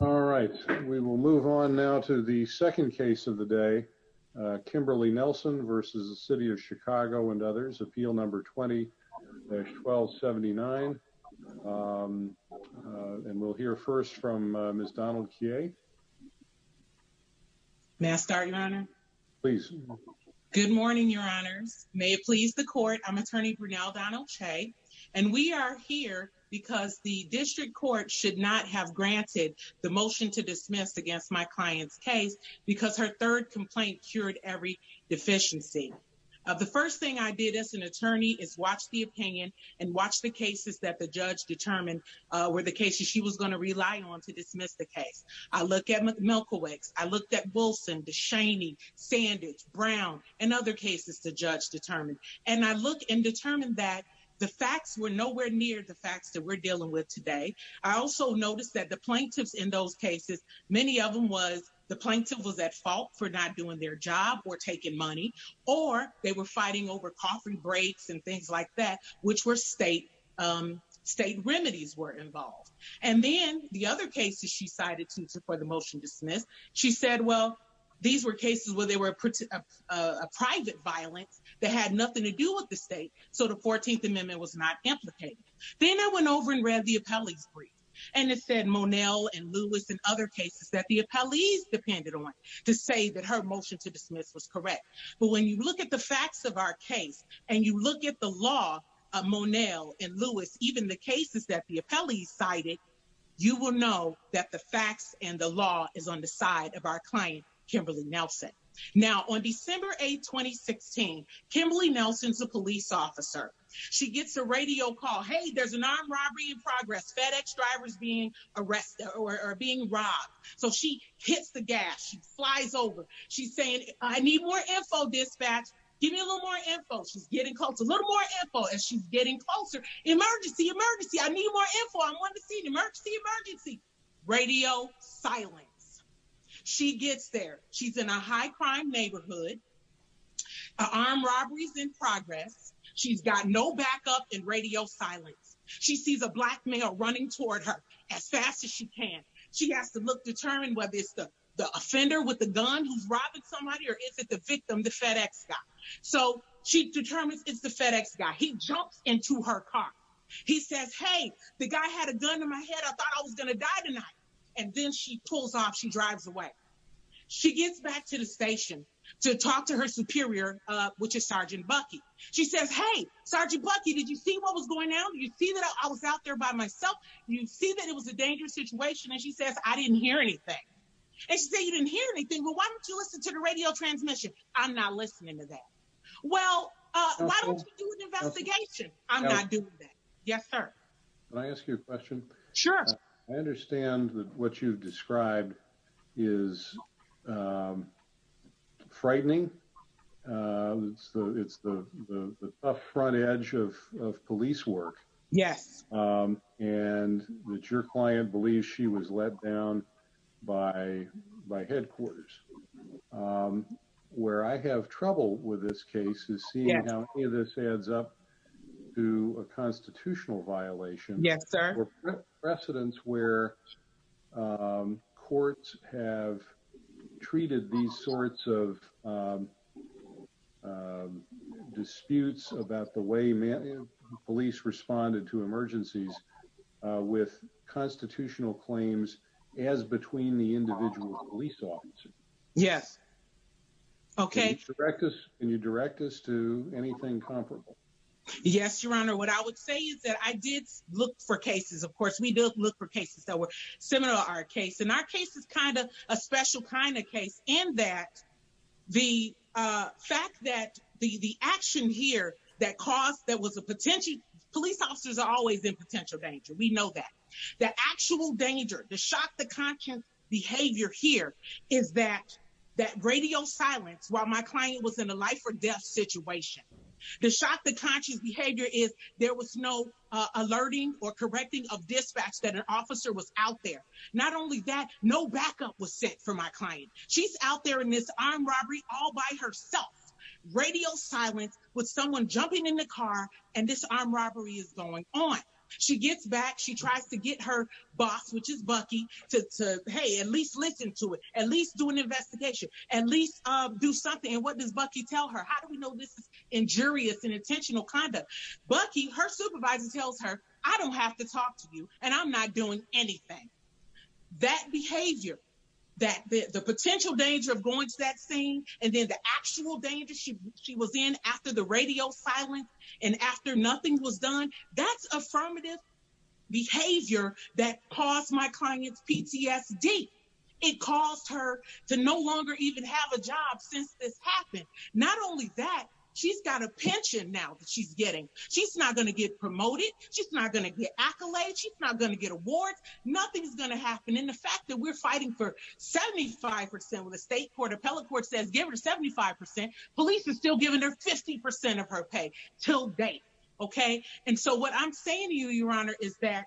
All right, we will move on now to the second case of the day. Kimberly Nelson versus the City of Chicago and others. Appeal number 20-1279. And we'll hear first from Ms. Donald Kyea. May I start, Your Honor? Please. Good morning, Your Honors. May it please the court, I'm Attorney Brinell Donald Chey, and we are here because the District Court should not have granted the motion to dismiss against my client's case because her third complaint cured every deficiency. The first thing I did as an attorney is watch the opinion and watch the cases that the judge determined were the cases she was going to rely on to dismiss the case. I looked at Milkowicks. I looked at Wilson, DeShaney, Sanders, Brown, and other cases the judge determined. And I looked and determined that the facts were nowhere near the facts that we're dealing with today. I also noticed that the plaintiffs in those cases, many of them was the plaintiff was at fault for not doing their job or taking money, or they were fighting over coughing breaks and things like that, which were state remedies were involved. And then the other cases she cited for the motion dismiss, she said, well, these were cases where they were a private violence that had nothing to do with the state, so the 14th Amendment was not implicated. Then I went over and read the appellee's brief, and it said Monel and Lewis and other cases that the appellees depended on to say that her motion to dismiss was correct. But when you look at the facts of our case, and you look at the law of Monel and Lewis, even the cases that the appellees cited, you will know that the facts and the law is on the side of our client, Kimberly Nelson. Now on December 8, 2016, Kimberly Nelson's a police officer. She gets a radio call, hey, there's an armed robbery in progress, FedEx drivers being arrested or being robbed. So she hits the gas, she flies over, she's saying, I need more info dispatch, give me a little more info, she's getting close, a little more info, and she's getting closer, emergency, emergency, I need more info, I'm on the scene, emergency, emergency, radio silence. She gets there, she's in a high crime neighborhood, an armed robbery's in progress, she's got no backup and radio silence. She sees a black male running toward her as fast as she can. She has to look to determine whether it's the offender with the gun who's robbing somebody or is it the victim, the FedEx guy. So she determines it's the FedEx guy. He jumps into her car. He says, hey, the guy had a gun to my head, I thought I had a gun. She pulls off, she drives away. She gets back to the station to talk to her superior, which is Sergeant Bucky. She says, hey, Sergeant Bucky, did you see what was going on? You see that I was out there by myself? You see that it was a dangerous situation? And she says, I didn't hear anything. And she said, you didn't hear anything? Well, why don't you listen to the radio transmission? I'm not listening to that. Well, why don't you do an investigation? I'm not doing that. Yes, sir. Can I ask you a question? Sure. I understand that what you've described is frightening. It's the up front edge of police work. Yes. And that your client believes she was let down by headquarters. Where I have trouble with this case is seeing how any of this adds up to a constitutional violation. Yes, sir. Or precedents where courts have treated these sorts of disputes about the way police responded to emergencies with constitutional claims as between the individual police officers. Yes. Can you direct us to anything comparable? Yes, Your Honor. What I would say is that I did look for cases. Of course, we do look for cases that were similar to our case. And our case is kind of a special kind of case in that the fact that the action here that caused, police officers are always in potential danger. We know that. The actual danger, the shock, the conscious behavior here is that radio silence while my client was in a life or death situation. The shock, the conscious behavior is there was no alerting or correcting of dispatch that an officer was out there. Not only that, no backup was sent for my client. She's out there in this armed robbery all by herself. Radio silence with someone jumping in the car and this armed boss, which is Bucky, to, hey, at least listen to it, at least do an investigation, at least do something. And what does Bucky tell her? How do we know this is injurious and intentional conduct? Bucky, her supervisor tells her, I don't have to talk to you, and I'm not doing anything. That behavior, the potential danger of going to that scene, and then the actual danger she was in after the radio silence and after nothing was done, that's affirmative behavior that caused my client's PTSD. It caused her to no longer even have a job since this happened. Not only that, she's got a pension now that she's getting. She's not going to get promoted. She's not going to get accolades. She's not going to get awards. Nothing's going to happen. And the fact that we're fighting for 75% of the state court, appellate court says give her 75%, police is still giving her 50% of her pay till date. And so what I'm saying to you, your honor, is that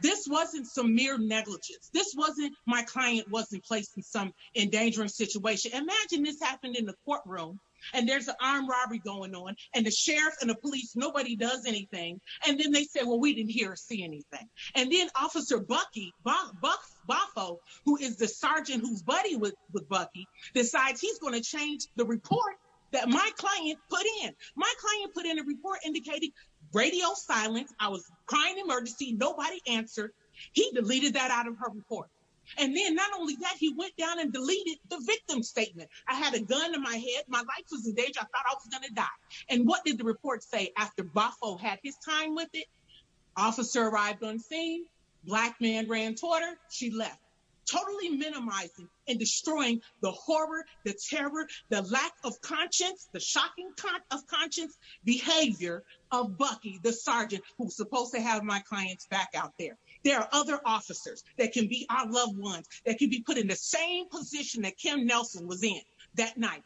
this wasn't some mere negligence. This wasn't, my client wasn't placed in some endangering situation. Imagine this happened in the courtroom and there's an armed robbery going on and the sheriff and the police, nobody does anything. And then they say, well, we didn't hear or see anything. And then officer Bucky, Bufo, who is the sergeant, who's buddy with Bucky, decides he's going to change the report that my client put in. My client put in a report indicating radio silence. I was crying emergency. Nobody answered. He deleted that out of her report. And then not only that, he went down and deleted the victim statement. I had a gun to my head. My life was in danger. I thought I was going to die. And what did the report say after Bufo had his time with it? Officer arrived on scene. Black man ran toward her. She left. Totally minimizing and destroying the horror, the terror, the lack of conscience, the shocking kind of conscience behavior of Bucky, the sergeant who's supposed to have my clients back out there. There are other officers that can be our loved ones that can be put in the same position that Kim Nelson was in that night.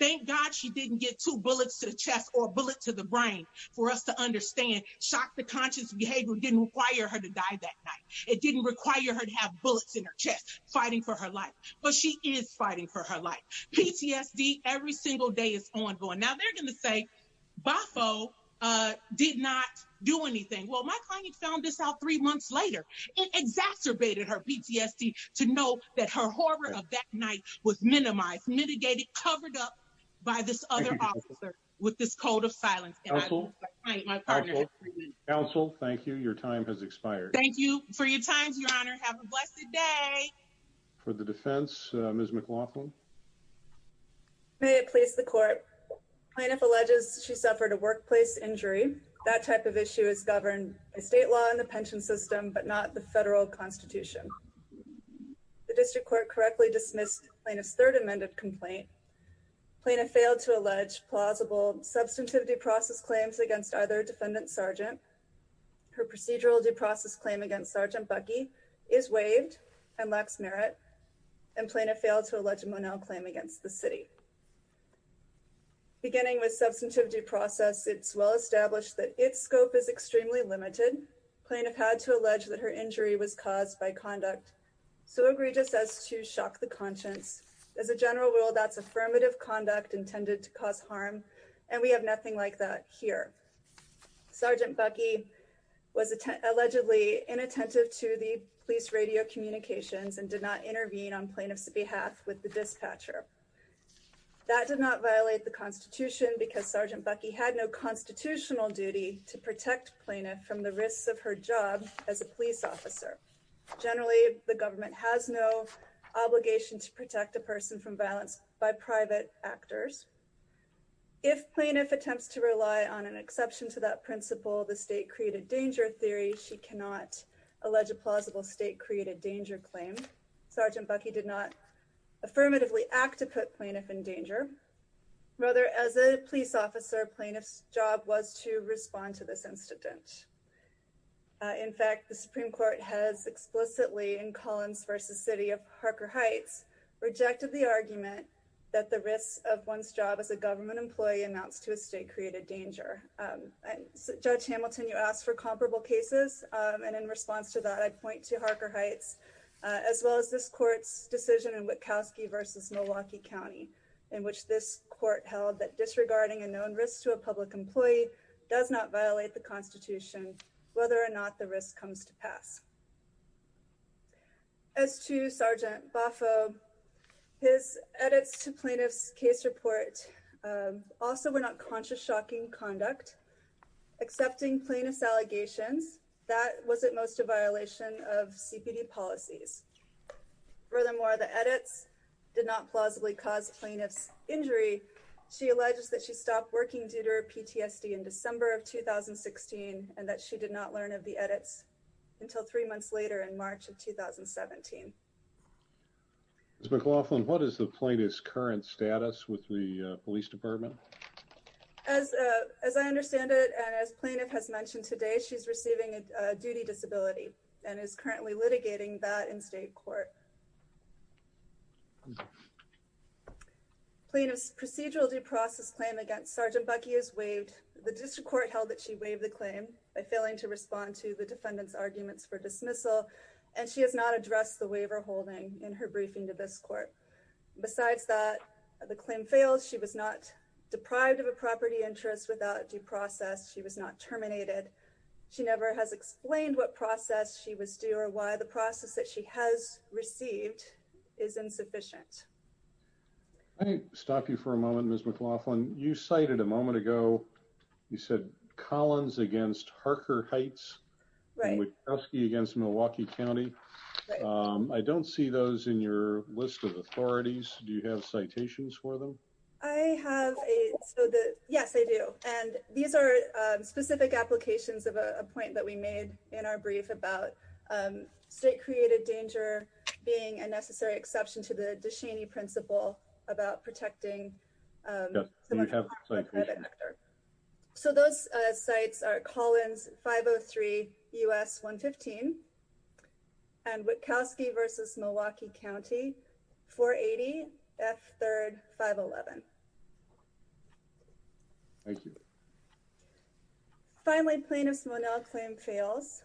Thank God she didn't get two bullets to the chest or a bullet to the brain for us to understand. Shocked the conscious behavior didn't require her to die that night. It didn't require her to have bullets in her chest fighting for her life. But she is fighting for her life. PTSD every single day is ongoing. Now they're going to say Bufo did not do anything. Well, my client found this out three months later. It exacerbated her PTSD to know that her horror of that night was minimized, mitigated, covered up by this other officer with this code of silence. Counsel, thank you. Your time has expired. Thank you for your time, Your Honor. Have a blessed day. For the defense, Ms. McLaughlin. May it please the court. Plaintiff alleges she suffered a workplace injury. That type of issue is governed by state law and the pension system, but not the federal constitution. The district court correctly dismissed plaintiff's third amended complaint. Plaintiff failed to allege plausible substantive due process claims against either defendant sergeant. Her procedural due process claim against Sergeant Bucky is waived and lacks merit, and plaintiff failed to allege a Monel claim against the city. Beginning with substantive due process, it's well established that its scope is extremely limited. Plaintiff had to allege that her injury was caused by conduct so egregious as to shock the conscience. As a general rule, that's affirmative conduct intended to cause harm, and we have nothing like that here. Sergeant Bucky was allegedly inattentive to the police radio communications and did not intervene on plaintiff's behalf with the dispatcher. That did not violate the constitution because Sergeant Bucky had no constitutional duty to protect plaintiff from the risks of her job as a police officer. Generally, the government has no obligation to protect a person from violence by private actors. If plaintiff attempts to rely on an exception to that principle, the state created danger theory, she cannot allege a plausible state created danger claim. Sergeant Bucky did not affirmatively act to put plaintiff in danger. Rather, as a police officer, plaintiff's job was to respond to this incident. In fact, the Supreme Court has explicitly, in Collins v. City of Harker Heights, rejected the argument that the risks of one's job as a government employee amounts to a state created danger. Judge Hamilton, you asked for comparable cases, and in response to that, I point to Harker Heights, as well as this court's decision in Witkowski v. Milwaukee County, in which this court held that disregarding a known risk to a public employee does not violate the constitution, whether or not the risk comes to pass. As to Sergeant Boffo, his edits to plaintiff's case report also were not conscious shocking conduct. Accepting plaintiff's allegations, that was at most a violation of CPD policies. Furthermore, the edits did not plausibly cause plaintiff's injury. She alleges that she stopped working due to her PTSD in December of 2016, and that she did not learn of the edits until three months later in March of 2017. Ms. McLaughlin, what is the plaintiff's current status with the police department? As I understand it, and as plaintiff has mentioned today, she's receiving a duty disability and is currently litigating that in state court. Plaintiff's procedural due process claim against Sergeant Buckey is waived. The district court held that she waived the claim by failing to respond to the defendant's arguments for dismissal, and she has not addressed the waiver holding in her briefing to this court. Besides that, the claim fails. She was not deprived of a property interest without due process. She was not terminated. She never has explained what process she was due or why the process that she has received is insufficient. Let me stop you for a moment, Ms. McLaughlin. You cited a moment ago, you said Collins against Harker Heights and Wachowski against Milwaukee County. I don't see those in your list of authorities. Do you have citations for them? I have a, so the, yes, I do. And these are specific applications of a point that we made in our brief about state-created danger being a necessary exception to the Duchenne principle about protecting the private sector. So those sites are Collins 503 U.S. 115 and Wachowski versus Milwaukee County 480 F3rd 511. Thank you. Finally, plaintiff's Monell claim fails.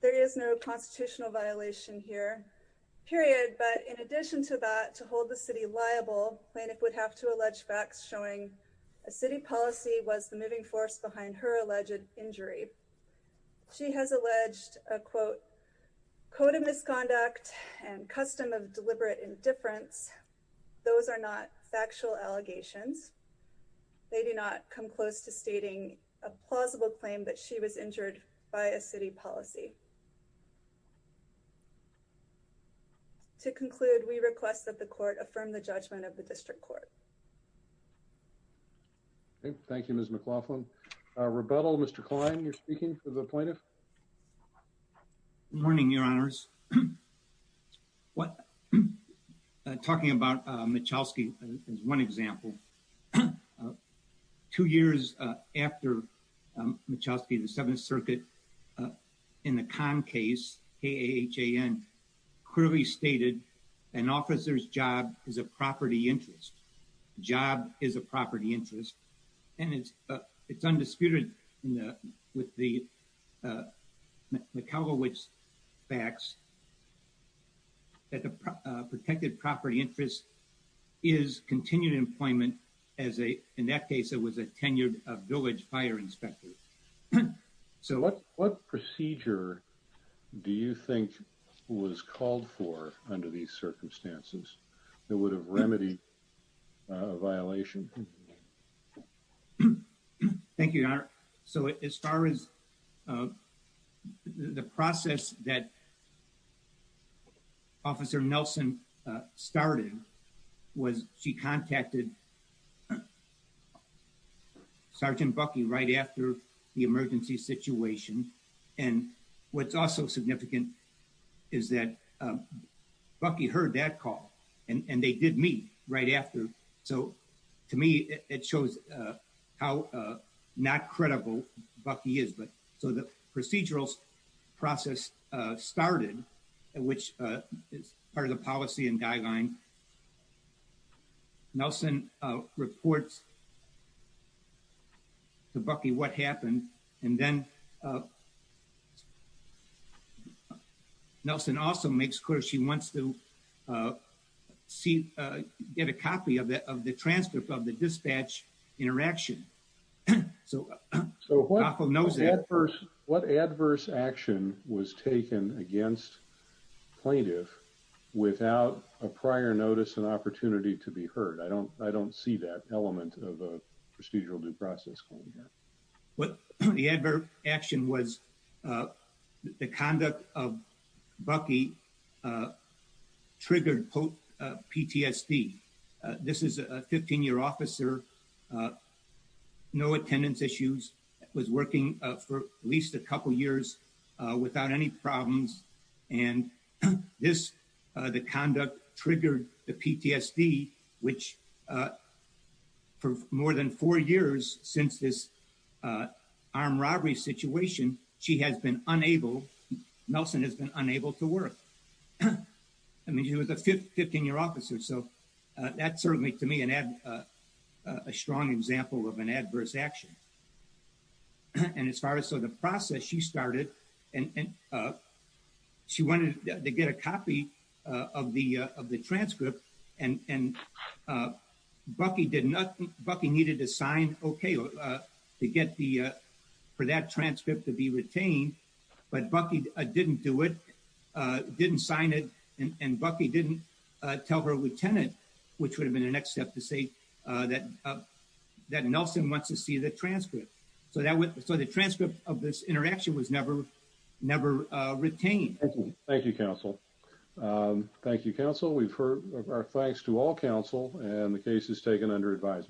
There is no constitutional violation here, period. But in addition to that, to hold the city liable, plaintiff would have to allege facts showing a city policy was the moving force behind her alleged injury. She has alleged a quote, code of misconduct and custom of deliberate indifference. Those are not factual allegations. They do not come close to stating a plausible claim that she was injured by a city policy. To conclude, we request that the court affirm the judgment of the district court. Thank you, Ms. McLaughlin, a rebuttal, Mr. Klein, you're speaking to the plaintiff. Morning, your honors. What talking about Michalski is one example. Of two years after Michalski, the Seventh Circuit in the con case, he clearly stated an officer's job is a property interest. Job is a property interest. And it's it's undisputed with the cowboys facts. That the protected property interest is continued employment as a in that case, it was a tenured village fire inspector. So what what procedure do you think was called for under these circumstances that would have remedied a violation? Thank you, your honor. So as far as the process that. Officer Nelson started was she contacted. Sergeant Bucky right after the emergency situation. And what's also significant is that Bucky heard that call and they did meet right after. So to me, it shows how not credible Bucky is. But so the procedural process started, which is part of the policy and guideline. Nelson reports. To Bucky, what happened and then. Nelson also makes clear she wants to see get a copy of the of the transfer of the dispatch interaction. So so knows that first, what adverse action was taken against plaintiff without a prior notice and opportunity to be heard? I don't I don't see that element of a procedural due process. What the advert action was the conduct of Bucky. Triggered PTSD. This is a 15 year officer. No attendance issues was working for at least a couple years without any problems. And this the conduct triggered the PTSD which. For more than four years since this armed robbery situation, she has been unable. Nelson has been unable to work. I mean, he was a 15 year officer, so that's certainly to me and add. A strong example of an adverse action. And as far as so the process she started and. Up. She wanted to get a copy of the of the transcript and and Bucky did not. Bucky needed to sign OK to get the for that transcript to be retained, but Bucky didn't do it. Didn't sign it and Bucky didn't tell her lieutenant, which would have been the next step to say that that Nelson wants to see the transcript. So that was so the transcript of this interaction was never never retained. Thank you, counsel. Thank you, counsel. We've heard our thanks to all counsel and the case is taken under advisement.